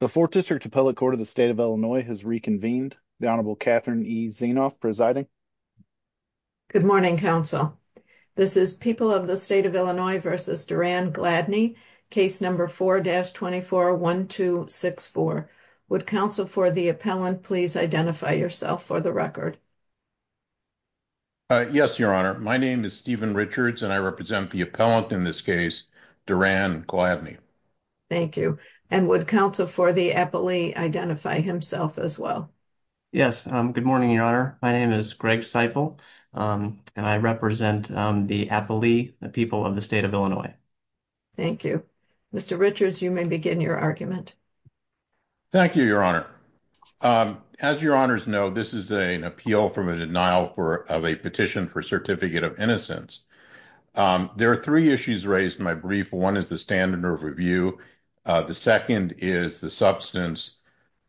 The 4th District Appellate Court of the State of Illinois has reconvened. The Honorable Catherine E. Zienoff presiding. Good morning, counsel. This is People of the State of Illinois v. Duran Gladney, case number 4-241264. Would counsel for the appellant please identify yourself for the record? Yes, your honor. My name is Stephen Richards and I represent the appellant in this case, Duran Gladney. Thank you. And would counsel for the appellee identify himself as well? Yes. Good morning, your honor. My name is Greg Seiple and I represent the appellee, the People of the State of Illinois. Thank you. Mr. Richards, you may begin your argument. Thank you, your honor. As your honors know, this is an appeal from a denial of a petition for certificate of innocence. There are three issues raised in my brief. One is the standard of review. The second is the substance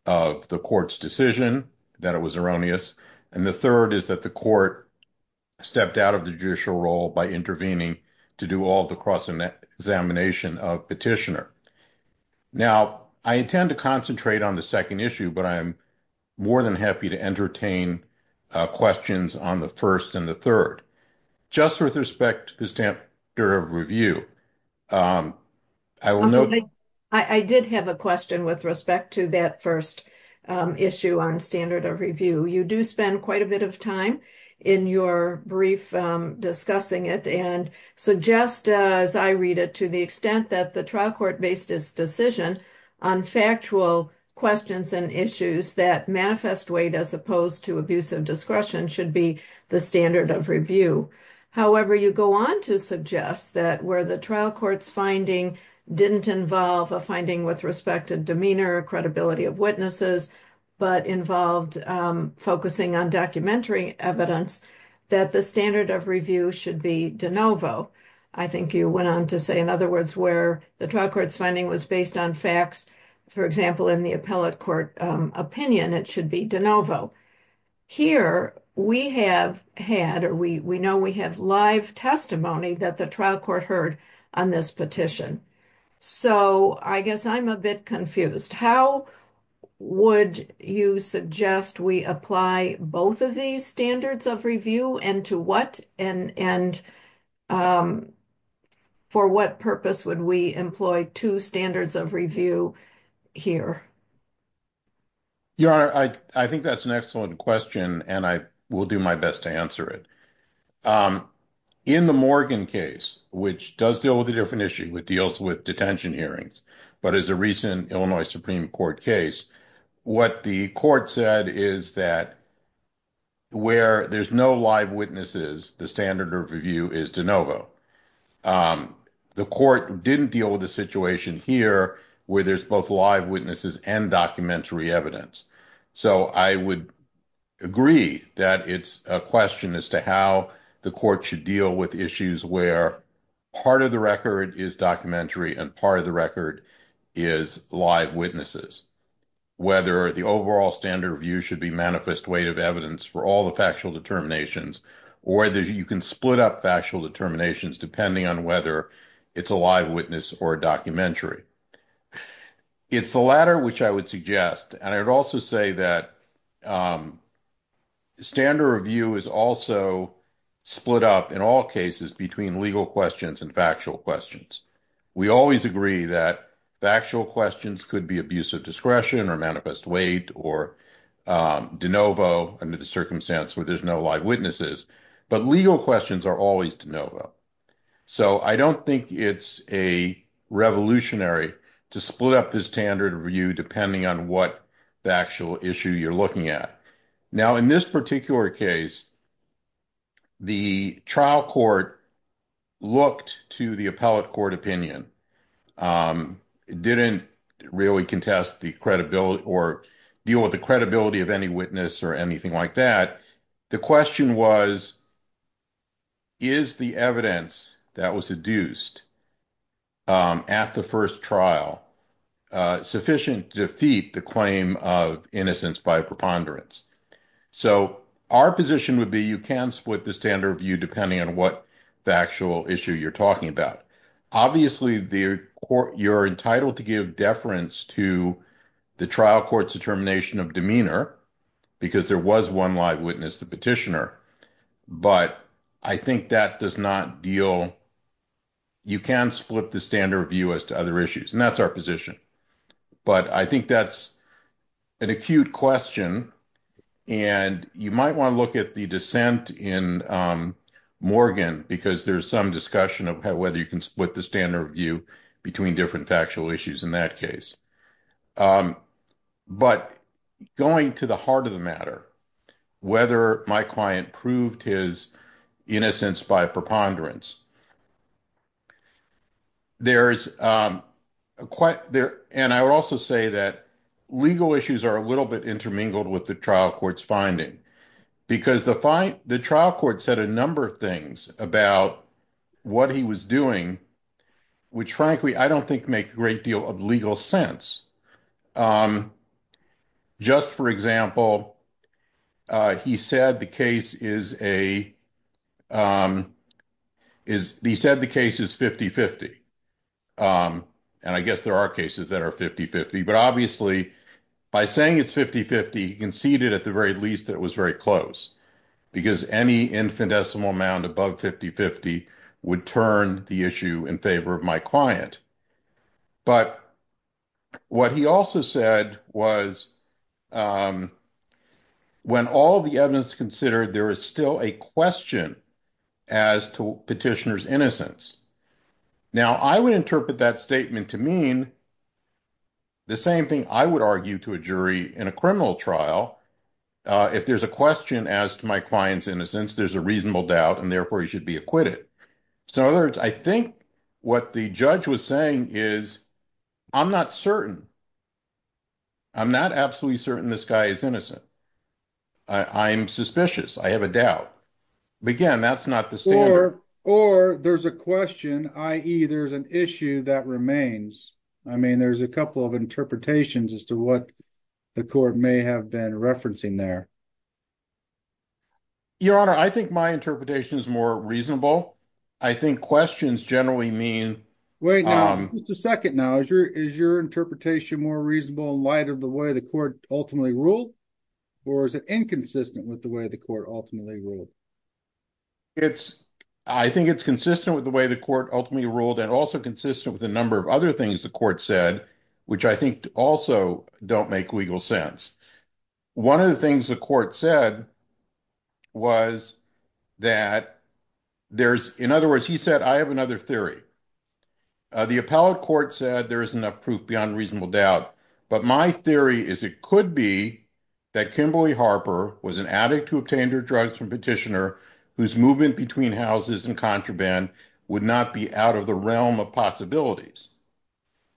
of the court's decision that it was erroneous. And the third is that the court stepped out of the judicial role by intervening to do all the cross examination of petitioner. Now, I intend to concentrate on the second issue, but I'm more than happy to entertain questions on the first and the third. Just with respect to the standard of review. I did have a question with respect to that first issue on standard of review. You do spend quite a bit of time in your brief discussing it. And so just as I read it to the extent that the trial court based its decision on factual questions and issues that manifest weight, as opposed to abuse of discretion, should be the standard of review. However, you go on to suggest that where the trial court's finding didn't involve a finding with respect to demeanor or credibility of witnesses, but involved focusing on documentary evidence, that the standard of review should be de novo. I think you went on to say, in other words, where the trial court's finding was based on facts. For example, in the appellate court opinion, it should be de novo. Here, we have had or we know we have live testimony that the trial court heard on this petition. So I guess I'm a bit confused. How would you suggest we apply both of these standards of review and to what? And for what purpose would we employ two standards of review here? Your Honor, I think that's an excellent question, and I will do my best to answer it. In the Morgan case, which does deal with a different issue, it deals with detention hearings. But as a recent Illinois Supreme Court case, what the court said is that where there's no live witnesses, the standard of review is de novo. The court didn't deal with the situation here where there's both live witnesses and documentary evidence. So I would agree that it's a question as to how the court should deal with issues where part of the record is documentary and part of the record is live witnesses. Whether the overall standard review should be manifest weight of evidence for all the factual determinations, or that you can split up factual determinations, depending on whether it's a live witness or a documentary. It's the latter, which I would suggest, and I would also say that standard review is also split up in all cases between legal questions and factual questions. We always agree that factual questions could be abuse of discretion or manifest weight or de novo under the circumstance where there's no live witnesses. But legal questions are always de novo. So I don't think it's a revolutionary to split up this standard review, depending on what the actual issue you're looking at. Now, in this particular case. The trial court looked to the appellate court opinion didn't really contest the credibility or deal with the credibility of any witness or anything like that. The question was. Is the evidence that was seduced at the first trial sufficient to defeat the claim of innocence by preponderance? So our position would be you can split the standard view, depending on what the actual issue you're talking about. Obviously, you're entitled to give deference to the trial court's determination of demeanor because there was one live witness, the petitioner. But I think that does not deal. You can split the standard view as to other issues, and that's our position. But I think that's an acute question, and you might want to look at the dissent in Morgan because there's some discussion of whether you can split the standard view between different factual issues in that case. But going to the heart of the matter, whether my client proved his innocence by preponderance. There is quite there, and I would also say that legal issues are a little bit intermingled with the trial court's finding because the fight the trial court said a number of things about what he was doing, which, frankly, I don't think make great deal of legal sense. Just, for example, he said the case is a is he said the case is 5050. And I guess there are cases that are 5050. But obviously, by saying it's 5050 conceded at the very least, it was very close because any infinitesimal amount above 5050 would turn the issue in favor of my client. But what he also said was. When all the evidence considered, there is still a question as to petitioner's innocence. Now, I would interpret that statement to mean. The same thing I would argue to a jury in a criminal trial. If there's a question as to my client's innocence, there's a reasonable doubt, and therefore you should be acquitted. So, in other words, I think what the judge was saying is. I'm not certain. I'm not absolutely certain this guy is innocent. I'm suspicious. I have a doubt. Again, that's not the store or there's a question. I either is an issue that remains. I mean, there's a couple of interpretations as to what the court may have been referencing there. Your honor, I think my interpretation is more reasonable. I think questions generally mean. Wait a second. Now, is your is your interpretation more reasonable light of the way the court ultimately ruled. Or is it inconsistent with the way the court ultimately ruled. It's I think it's consistent with the way the court ultimately ruled and also consistent with a number of other things the court said, which I think also don't make legal sense. One of the things the court said was that there's, in other words, he said, I have another theory. The appellate court said there is enough proof beyond reasonable doubt. But my theory is, it could be that Kimberly Harper was an addict who obtained her drugs from petitioner whose movement between houses and contraband would not be out of the realm of possibilities.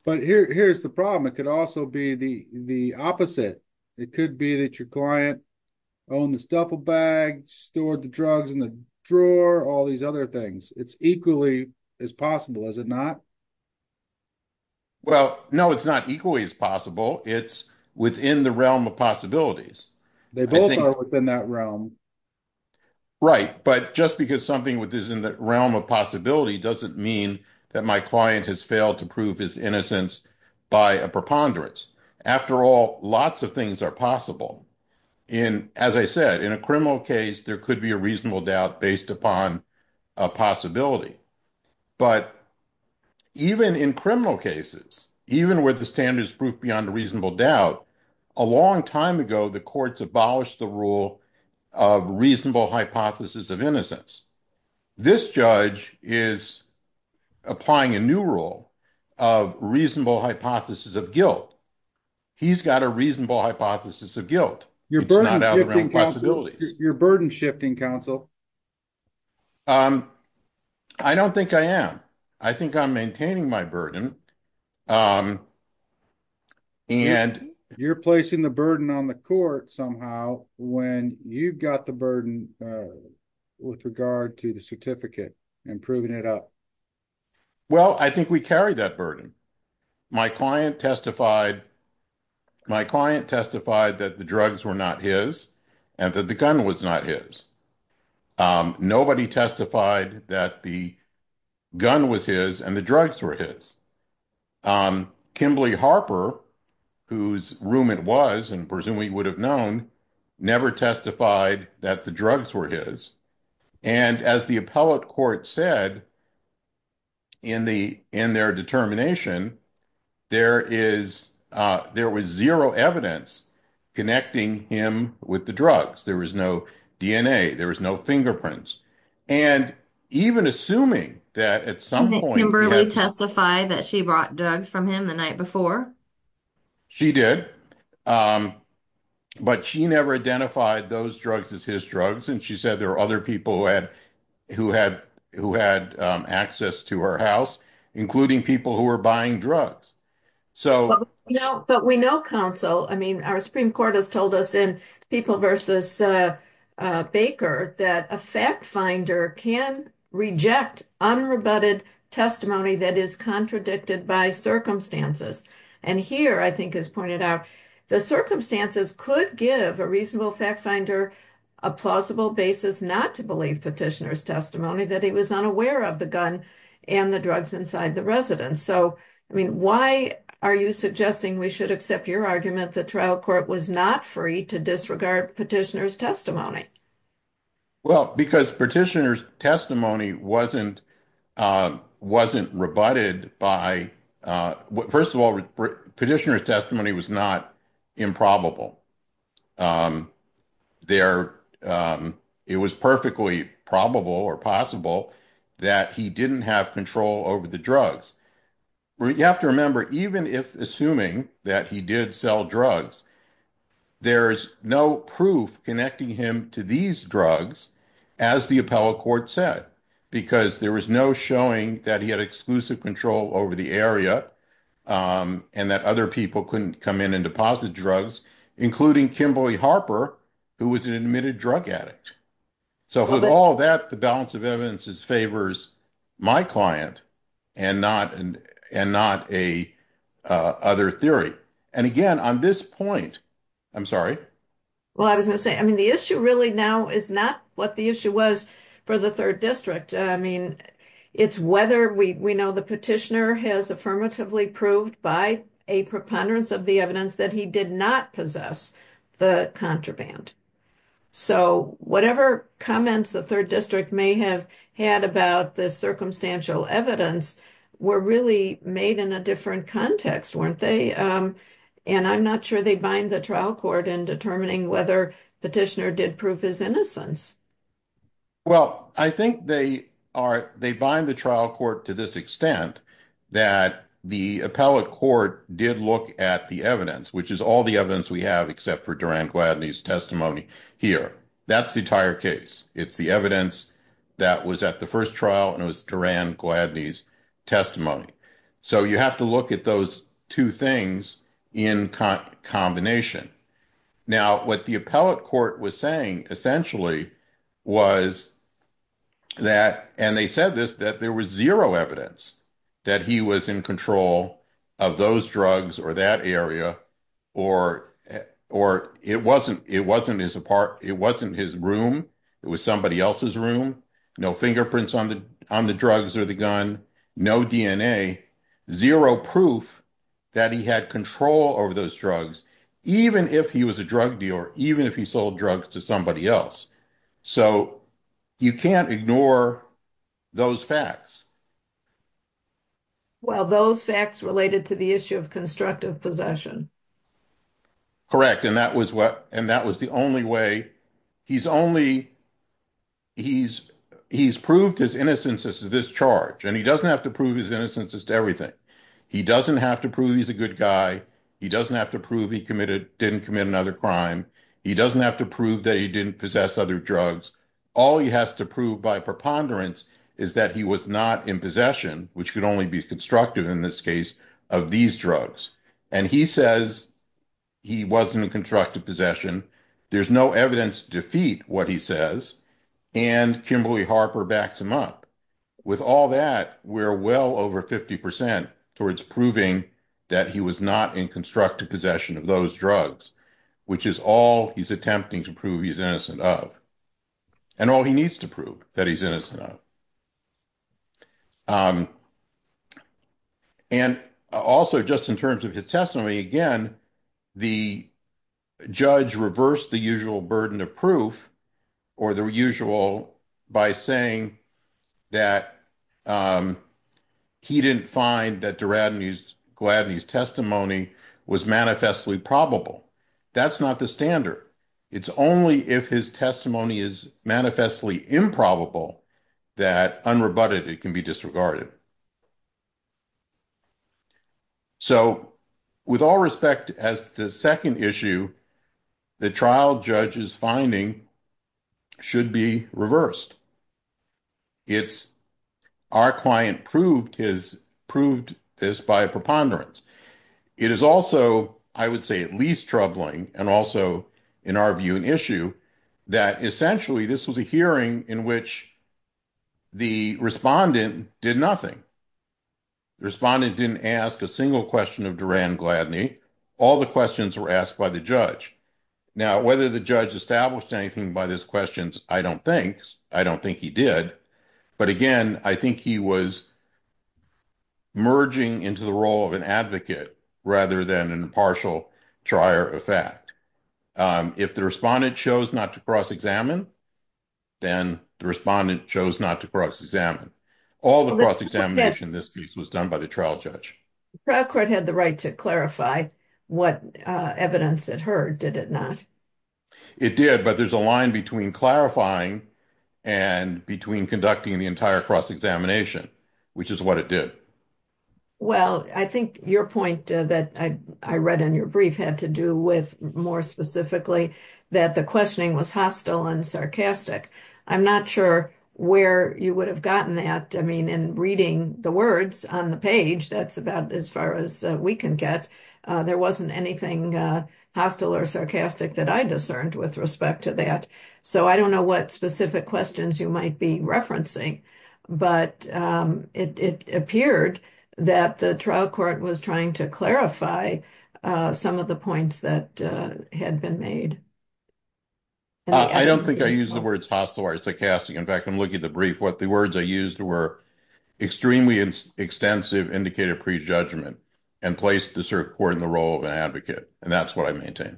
But here, here's the problem. It could also be the, the opposite. It could be that your client. Own this duffel bag stored the drugs in the drawer, all these other things. It's equally as possible as it not. Well, no, it's not equally as possible. It's within the realm of possibilities. They both are within that realm. Right, but just because something with this in the realm of possibility doesn't mean that my client has failed to prove his innocence by a preponderance. After all, lots of things are possible. In, as I said, in a criminal case, there could be a reasonable doubt based upon a possibility. But even in criminal cases, even with the standards proof beyond reasonable doubt, a long time ago, the courts abolished the rule of reasonable hypothesis of innocence. This judge is applying a new rule of reasonable hypothesis of guilt. He's got a reasonable hypothesis of guilt. Your burden shifting counsel. I don't think I am. I think I'm maintaining my burden. And you're placing the burden on the court somehow when you've got the burden with regard to the certificate and proving it up. Well, I think we carry that burden. My client testified. My client testified that the drugs were not his and that the gun was not his. Nobody testified that the gun was his and the drugs were his. Kimberly Harper, whose room it was, and presumably would have known, never testified that the drugs were his. And as the appellate court said. In the in their determination, there is there was zero evidence connecting him with the drugs. There was no DNA. There was no fingerprints. And even assuming that at some point Kimberly testified that she brought drugs from him the night before. She did, but she never identified those drugs as his drugs. And she said there are other people who had who had who had access to her house, including people who were buying drugs. So, you know, but we know counsel. I mean, our Supreme Court has told us in people versus Baker that a fact finder can reject unrebutted testimony that is contradicted by circumstances. And here, I think, as pointed out, the circumstances could give a reasonable fact finder a plausible basis not to believe petitioner's testimony that he was unaware of the gun and the drugs inside the residence. So, I mean, why are you suggesting we should accept your argument that trial court was not free to disregard petitioner's testimony? Well, because petitioner's testimony wasn't wasn't rebutted by first of all, petitioner's testimony was not improbable there. It was perfectly probable or possible that he didn't have control over the drugs. You have to remember, even if assuming that he did sell drugs, there's no proof connecting him to these drugs, as the appellate court said, because there was no showing that he had exclusive control over the area. And that other people couldn't come in and deposit drugs, including Kimberly Harper, who was an admitted drug addict. So with all that, the balance of evidence is favors my client and not and not a other theory. And again, on this point, I'm sorry. Well, I was going to say, I mean, the issue really now is not what the issue was for the 3rd district. I mean, it's whether we know the petitioner has affirmatively proved by a preponderance of the evidence that he did not possess the contraband. So whatever comments the 3rd district may have had about the circumstantial evidence were really made in a different context, weren't they? And I'm not sure they bind the trial court in determining whether petitioner did prove his innocence. Well, I think they are. They bind the trial court to this extent that the appellate court did look at the evidence, which is all the evidence we have, except for Duran Gladney's testimony here. That's the entire case. It's the evidence that was at the 1st trial and it was Duran Gladney's testimony. So you have to look at those 2 things in combination. Now, what the appellate court was saying essentially was that and they said this, that there was zero evidence that he was in control of those drugs or that area or or it wasn't. It wasn't his apart. It wasn't his room. It was somebody else's room. No fingerprints on the drugs or the gun. No DNA. Zero proof that he had control over those drugs, even if he was a drug dealer, even if he sold drugs to somebody else. So you can't ignore those facts. Well, those facts related to the issue of constructive possession. Correct. And that was what and that was the only way he's only. He's he's proved his innocence is this charge and he doesn't have to prove his innocence is to everything. He doesn't have to prove he's a good guy. He doesn't have to prove he committed didn't commit another crime. He doesn't have to prove that he didn't possess other drugs. All he has to prove by preponderance is that he was not in possession, which could only be constructive in this case of these drugs. And he says he wasn't in constructive possession. There's no evidence to defeat what he says. And also, just in terms of his testimony again, the judge reversed the usual burden of proof or the reverse of the burden of proof. So, with all respect, as the 2nd issue, the trial judge is finding. Should be reversed. It's our client proved his proved this by preponderance. It is also, I would say, at least troubling. And also, in our view, an issue that essentially this was a hearing in which. The respondent did nothing. Responded didn't ask a single question of Duran Gladney. All the questions were asked by the judge. Now, whether the judge established anything by this questions. I don't think I don't think he did. But again, I think he was. It did, but there's a line between clarifying and between conducting the entire cross examination, which is what it did. Well, I think your point that I read in your brief had to do with more specifically that the questioning was hostile and sarcastic. I'm not sure where you would have gotten that. I mean, and reading the words on the page, that's about as far as we can get. There wasn't anything hostile or sarcastic that I discerned with respect to that. So, I don't know what specific questions you might be referencing, but it appeared that the trial court was trying to clarify some of the points that had been made. I don't think I use the words hostile or sarcastic. In fact, I'm looking at the brief. What the words I used were extremely extensive, indicated prejudgment and place the court in the role of an advocate. And that's what I maintain.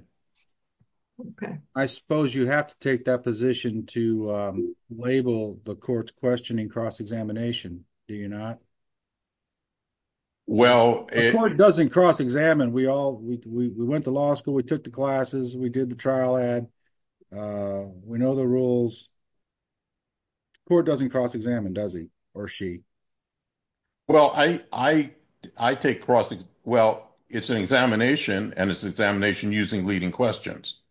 Okay, I suppose you have to take that position to label the court's questioning cross examination. Do you not. Well, it doesn't cross examine. We all we went to law school. We took the classes. We did the trial ad. We know the rules court doesn't cross examine. Does he or she. Well, I, I, I take crossing. Well, it's an examination and it's examination using leading questions.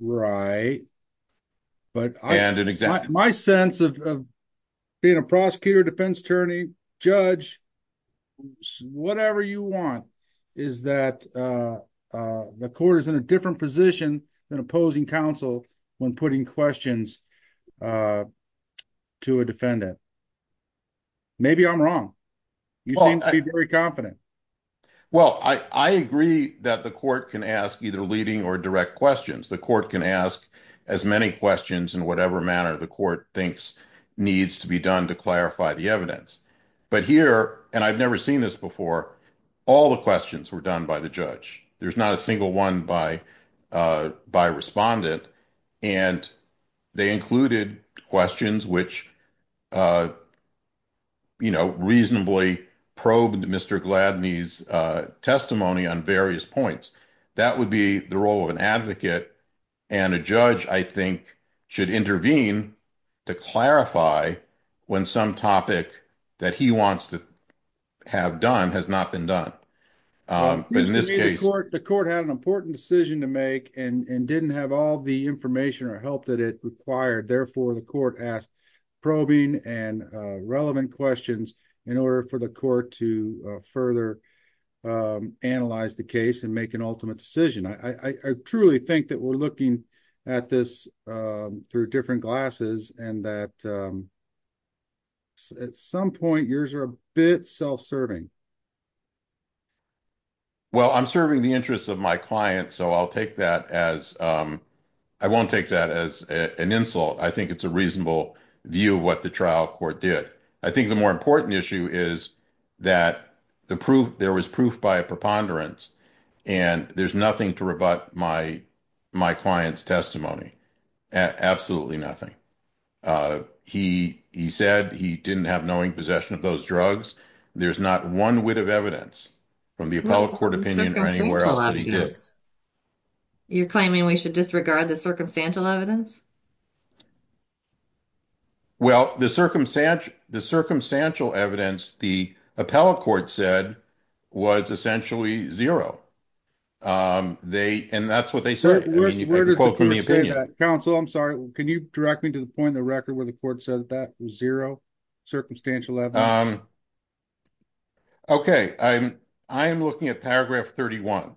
Right. But I had an exact my sense of being a prosecutor defense attorney judge. Whatever you want is that the court is in a different position than opposing counsel when putting questions. To a defendant. Maybe I'm wrong. Very confident. Well, I, I agree that the court can ask either leading or direct questions. The court can ask as many questions in whatever manner the court thinks needs to be done to clarify the evidence. But here, and I've never seen this before. All the questions were done by the judge. There's not a single one by by respondent. And they included questions, which, you know, reasonably probed Mr. Gladney's testimony on various points. That would be the role of an advocate and a judge, I think, should intervene to clarify when some topic that he wants to have done has not been done. In this case, the court had an important decision to make and didn't have all the information or help that it required. Therefore, the court asked probing and relevant questions in order for the court to further. Analyze the case and make an ultimate decision. I truly think that we're looking at this through different glasses and that. At some point, yours are a bit self serving. Well, I'm serving the interests of my client, so I'll take that as I won't take that as an insult. I think it's a reasonable view of what the trial court did. I think the more important issue is that the proof there was proof by a preponderance and there's nothing to rebut my, my client's testimony. Absolutely nothing. He, he said he didn't have knowing possession of those drugs. There's not one wit of evidence from the appellate court opinion or anywhere else. You're claiming we should disregard the circumstantial evidence. Well, the circumstance, the circumstantial evidence, the appellate court said was essentially zero. They, and that's what they said. Counsel, I'm sorry. Can you direct me to the point in the record where the court said that zero circumstantial? Okay, I'm, I'm looking at paragraph 31.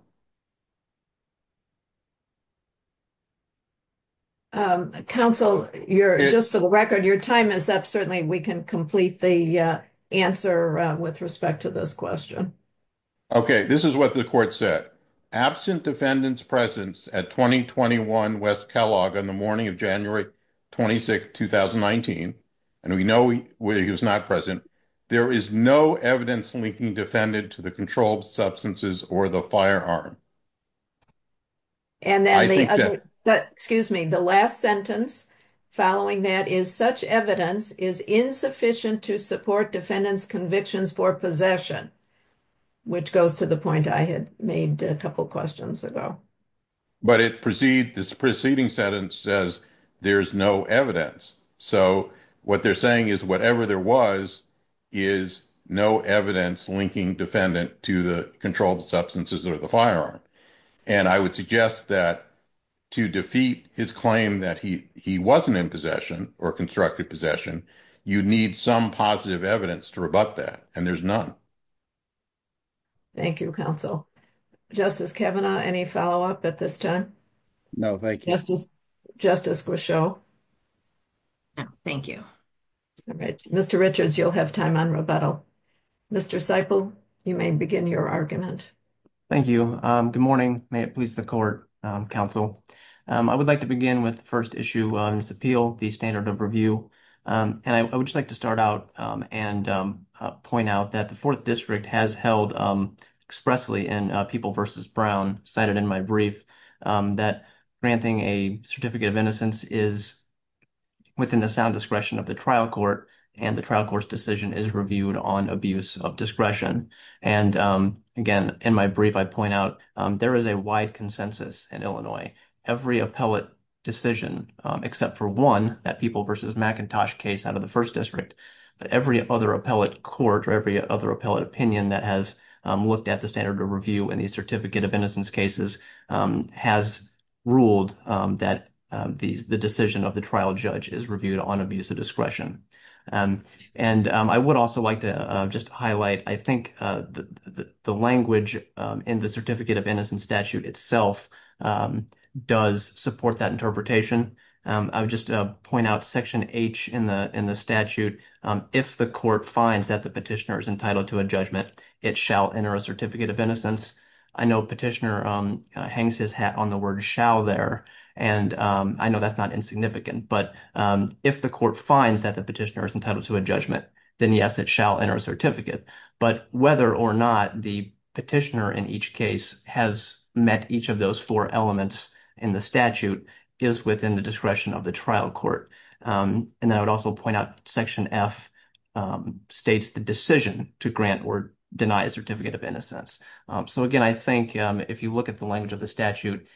Counsel, you're just for the record. Your time is up. Certainly. We can complete the answer with respect to this question. Okay, this is what the court said. Absent defendants presence at 2021 West Kellogg on the morning of January 26, 2019. And we know he was not present. There is no evidence linking defendant to the controlled substances or the firearm. And then, excuse me, the last sentence following that is such evidence is insufficient to support defendants convictions for possession. Which goes to the point I had made a couple questions ago. But it proceed this preceding sentence says there's no evidence. So what they're saying is whatever there was is no evidence linking defendant to the controlled substances or the firearm. And I would suggest that to defeat his claim that he, he wasn't in possession or constructed possession. You need some positive evidence to rebut that. And there's none. Thank you counsel justice Kevin any follow up at this time. No, thank you. Justice. Justice. Thank you. All right. Mr. Richards. You'll have time on rebuttal. Mr. cycle. You may begin your argument. Thank you. Good morning. May it please the court counsel. I would like to begin with the 1st issue on this appeal the standard of review. And I would just like to start out and point out that the 4th district has held expressly in people versus Brown cited in my brief that granting a certificate of innocence is within the sound discretion of the trial court and the trial court's decision is reviewed on abuse of discretion. And again, in my brief, I point out there is a wide consensus in Illinois, every appellate decision, except for 1 that people versus Macintosh case out of the 1st district. But every other appellate court or every other appellate opinion that has looked at the standard of review and the certificate of innocence cases has ruled that the decision of the trial judge is reviewed on abuse of discretion. And I would also like to just highlight, I think the language in the certificate of innocence statute itself does support that interpretation. I would just point out Section H in the in the statute. If the court finds that the petitioner is entitled to a judgment, it shall enter a certificate of innocence. I know petitioner hangs his hat on the word shall there, and I know that's not insignificant, but if the court finds that the petitioner is entitled to a judgment, then yes, it shall enter a certificate. But whether or not the petitioner in each case has met each of those four elements in the statute is within the discretion of the trial court. And then I would also point out Section F states the decision to grant or deny a certificate of innocence. So again, I think if you look at the language of the statute,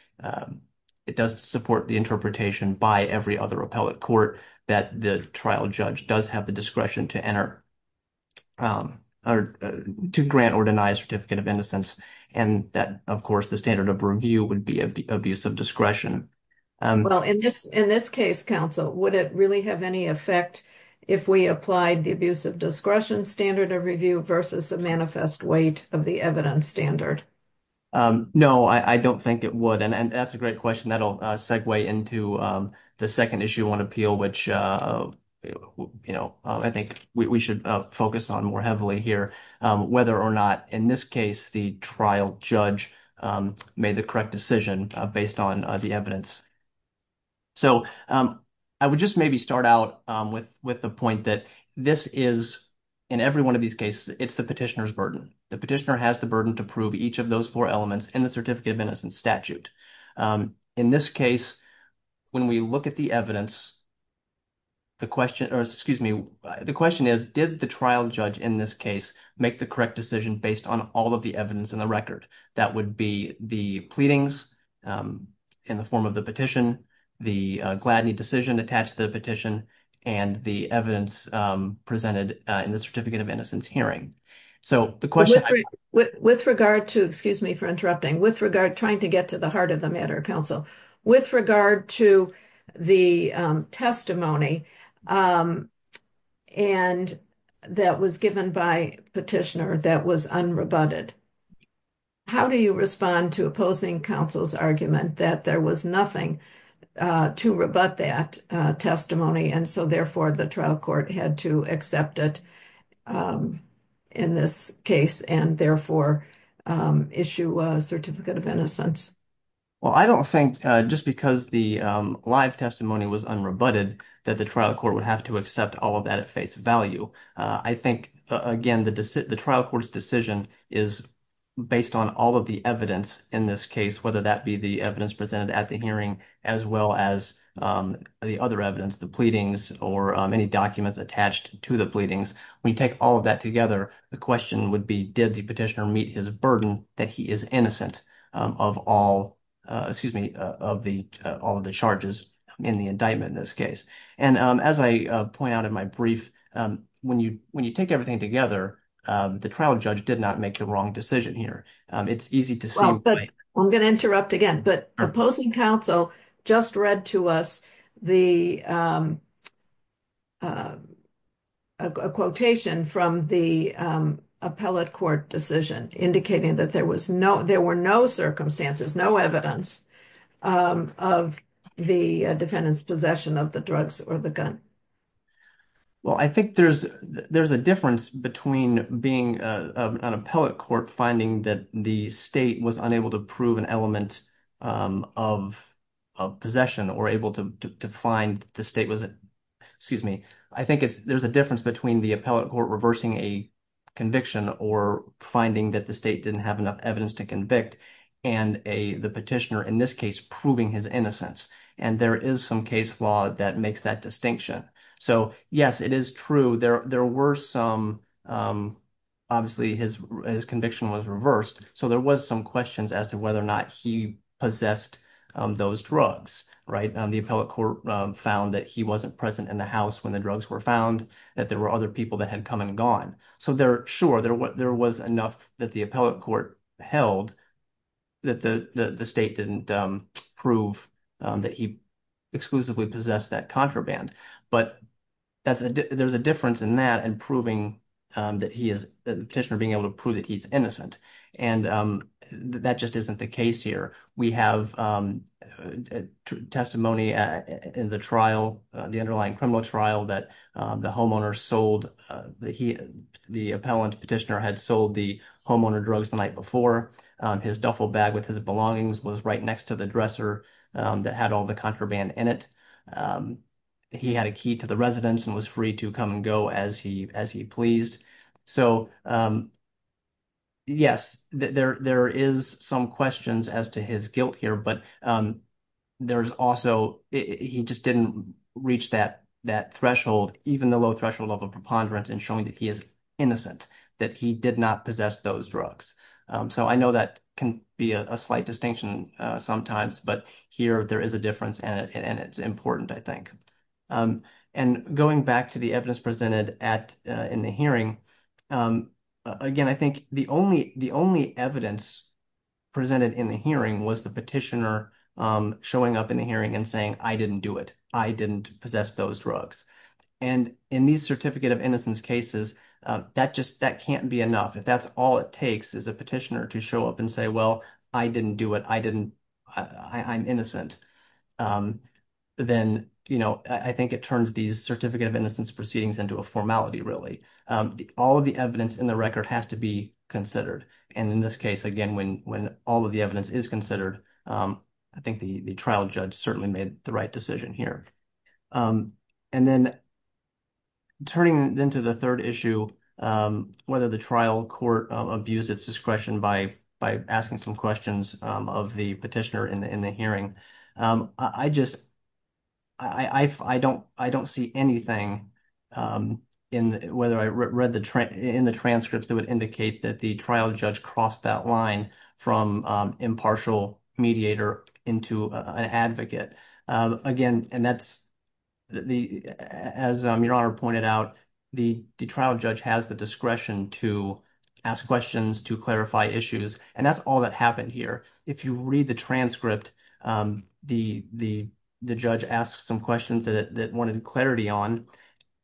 it does support the interpretation by every other appellate court that the trial judge does have the discretion to grant or deny a certificate of innocence. And that, of course, the standard of review would be abuse of discretion. Well, in this in this case, counsel, would it really have any effect if we applied the abuse of discretion standard of review versus a manifest weight of the evidence standard? No, I don't think it would. And that's a great question. That'll segue into the second issue on appeal, which, you know, I think we should focus on more heavily here. Whether or not in this case, the trial judge made the correct decision based on the evidence. So I would just maybe start out with with the point that this is in every one of these cases, it's the petitioner's burden. The petitioner has the burden to prove each of those four elements in the certificate of innocence statute. In this case, when we look at the evidence. The question or excuse me, the question is, did the trial judge in this case make the correct decision based on all of the evidence in the record? That would be the pleadings in the form of the petition, the Gladney decision attached to the petition and the evidence presented in the certificate of innocence hearing. So the question with regard to excuse me for interrupting with regard trying to get to the heart of the matter, counsel, with regard to the testimony. And that was given by petitioner that was unrebutted. How do you respond to opposing counsel's argument that there was nothing to rebut that testimony? And so therefore, the trial court had to accept it. In this case, and therefore issue a certificate of innocence. Well, I don't think just because the live testimony was unrebutted that the trial court would have to accept all of that at face value. I think, again, the trial court's decision is based on all of the evidence in this case, whether that be the evidence presented at the hearing, as well as the other evidence, the pleadings or any documents attached to the pleadings. When you take all of that together, the question would be, did the petitioner meet his burden that he is innocent of all of the charges in the indictment in this case? And as I point out in my brief, when you take everything together, the trial judge did not make the wrong decision here. It's easy to see. I'm going to interrupt again, but opposing counsel just read to us a quotation from the appellate court decision, indicating that there were no circumstances, no evidence of the defendant's possession of the drugs or the gun. Well, I think there's a difference between being an appellate court finding that the state was unable to prove an element of possession or able to find the state was – excuse me. I think there's a difference between the appellate court reversing a conviction or finding that the state didn't have enough evidence to convict and the petitioner in this case proving his innocence. And there is some case law that makes that distinction. So, yes, it is true. There were some – obviously, his conviction was reversed. So there was some questions as to whether or not he possessed those drugs, right? The appellate court found that he wasn't present in the house when the drugs were found, that there were other people that had come and gone. So, sure, there was enough that the appellate court held that the state didn't prove that he exclusively possessed that contraband. But there's a difference in that and proving that he is – the petitioner being able to prove that he's innocent, and that just isn't the case here. We have testimony in the trial, the underlying criminal trial, that the homeowner sold – the appellant petitioner had sold the homeowner drugs the night before. His duffel bag with his belongings was right next to the dresser that had all the contraband in it. He had a key to the residence and was free to come and go as he pleased. So, yes, there is some questions as to his guilt here, but there's also – he just didn't reach that threshold, even the low-threshold level preponderance, in showing that he is innocent, that he did not possess those drugs. So I know that can be a slight distinction sometimes, but here there is a difference, and it's important, I think. And going back to the evidence presented in the hearing, again, I think the only evidence presented in the hearing was the petitioner showing up in the hearing and saying, I didn't do it. I didn't possess those drugs. And in these certificate of innocence cases, that just – that can't be enough. If that's all it takes is a petitioner to show up and say, well, I didn't do it. I didn't – I'm innocent, then, you know, I think it turns these certificate of innocence proceedings into a formality, really. All of the evidence in the record has to be considered. And in this case, again, when all of the evidence is considered, I think the trial judge certainly made the right decision here. And then turning then to the third issue, whether the trial court abused its discretion by asking some questions of the petitioner in the hearing. I just – I don't see anything in whether I read the – in the transcripts that would indicate that the trial judge crossed that line from impartial mediator into an advocate. Again, and that's the – as Your Honor pointed out, the trial judge has the discretion to ask questions, to clarify issues. And that's all that happened here. If you read the transcript, the judge asked some questions that it wanted clarity on,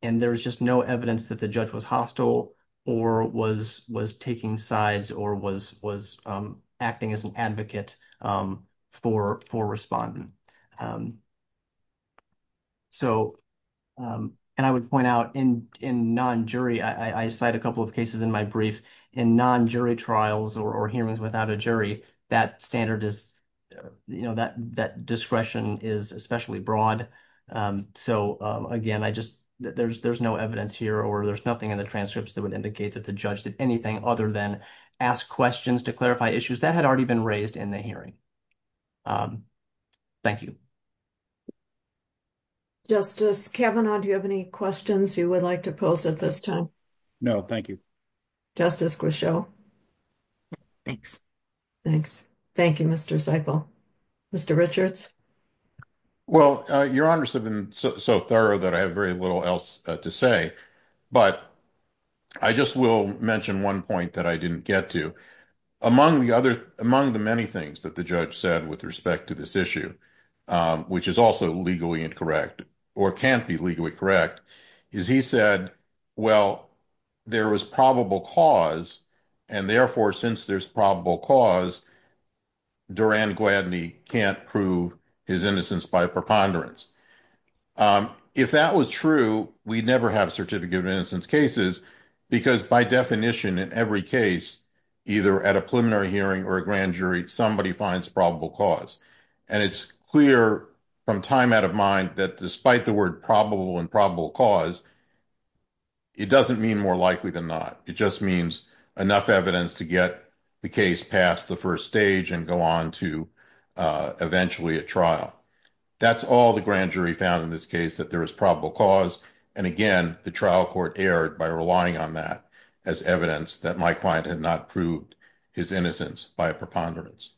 and there was just no evidence that the judge was hostile or was taking sides or was acting as an advocate for respondent. So – and I would point out in non-jury – I cite a couple of cases in my brief. In non-jury trials or hearings without a jury, that standard is – you know, that discretion is especially broad. So, again, I just – there's no evidence here or there's nothing in the transcripts that would indicate that the judge did anything other than ask questions to clarify issues. That had already been raised in the hearing. Thank you. Justice Kavanaugh, do you have any questions you would like to pose at this time? No, thank you. Justice Grisho? Thanks. Thanks. Thank you, Mr. Zipel. Mr. Richards? Well, Your Honors have been so thorough that I have very little else to say, but I just will mention one point that I didn't get to. Among the many things that the judge said with respect to this issue, which is also legally incorrect or can't be legally correct, is he said, well, there was probable cause, and therefore, since there's probable cause, Durand-Gladney can't prove his innocence by preponderance. If that was true, we'd never have certificate of innocence cases because, by definition, in every case, either at a preliminary hearing or a grand jury, somebody finds probable cause. And it's clear from time out of mind that despite the word probable and probable cause, it doesn't mean more likely than not. It just means enough evidence to get the case past the first stage and go on to eventually a trial. That's all the grand jury found in this case, that there is probable cause. And again, the trial court erred by relying on that as evidence that my client had not proved his innocence by a preponderance.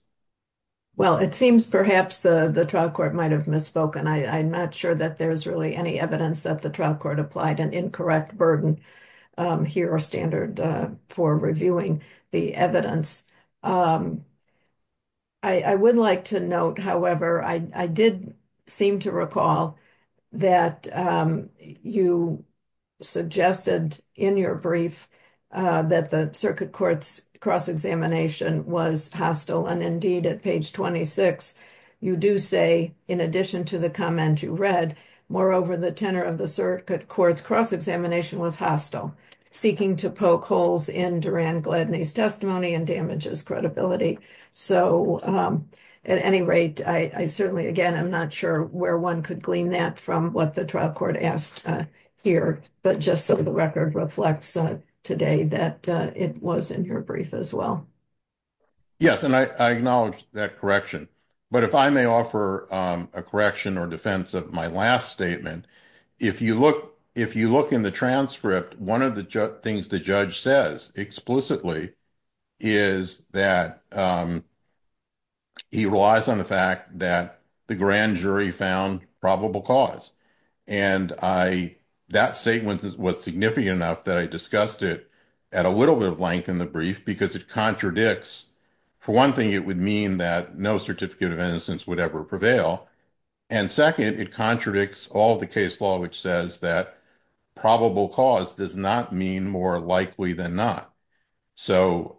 Well, it seems perhaps the trial court might have misspoken. I'm not sure that there's really any evidence that the trial court applied an incorrect burden here or standard for reviewing the evidence. I would like to note, however, I did seem to recall that you suggested in your brief that the circuit court's cross-examination was hostile. And indeed, at page 26, you do say, in addition to the comment you read, moreover, the tenor of the circuit court's cross-examination was hostile, seeking to poke holes in Duran Gladney's testimony and damages credibility. So, at any rate, I certainly, again, I'm not sure where one could glean that from what the trial court asked here. But just so the record reflects today that it was in your brief as well. Yes, and I acknowledge that correction. But if I may offer a correction or defense of my last statement, if you look in the transcript, one of the things the judge says explicitly is that he relies on the fact that the grand jury found probable cause. And that statement was significant enough that I discussed it at a little bit of length in the brief because it contradicts. For one thing, it would mean that no certificate of innocence would ever prevail. And second, it contradicts all the case law, which says that probable cause does not mean more likely than not. So,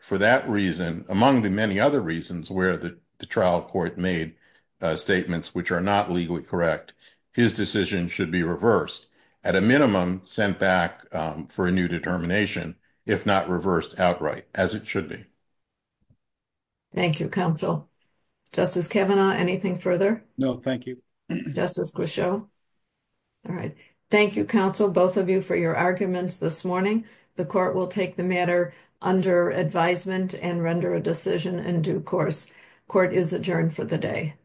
for that reason, among the many other reasons where the trial court made statements which are not legally correct, his decision should be reversed. At a minimum, sent back for a new determination, if not reversed outright, as it should be. Thank you, counsel. Justice Kavanaugh, anything further? No, thank you. Justice Grisho? All right. Thank you, counsel, both of you, for your arguments this morning. The court will take the matter under advisement and render a decision in due course. Court is adjourned for the day.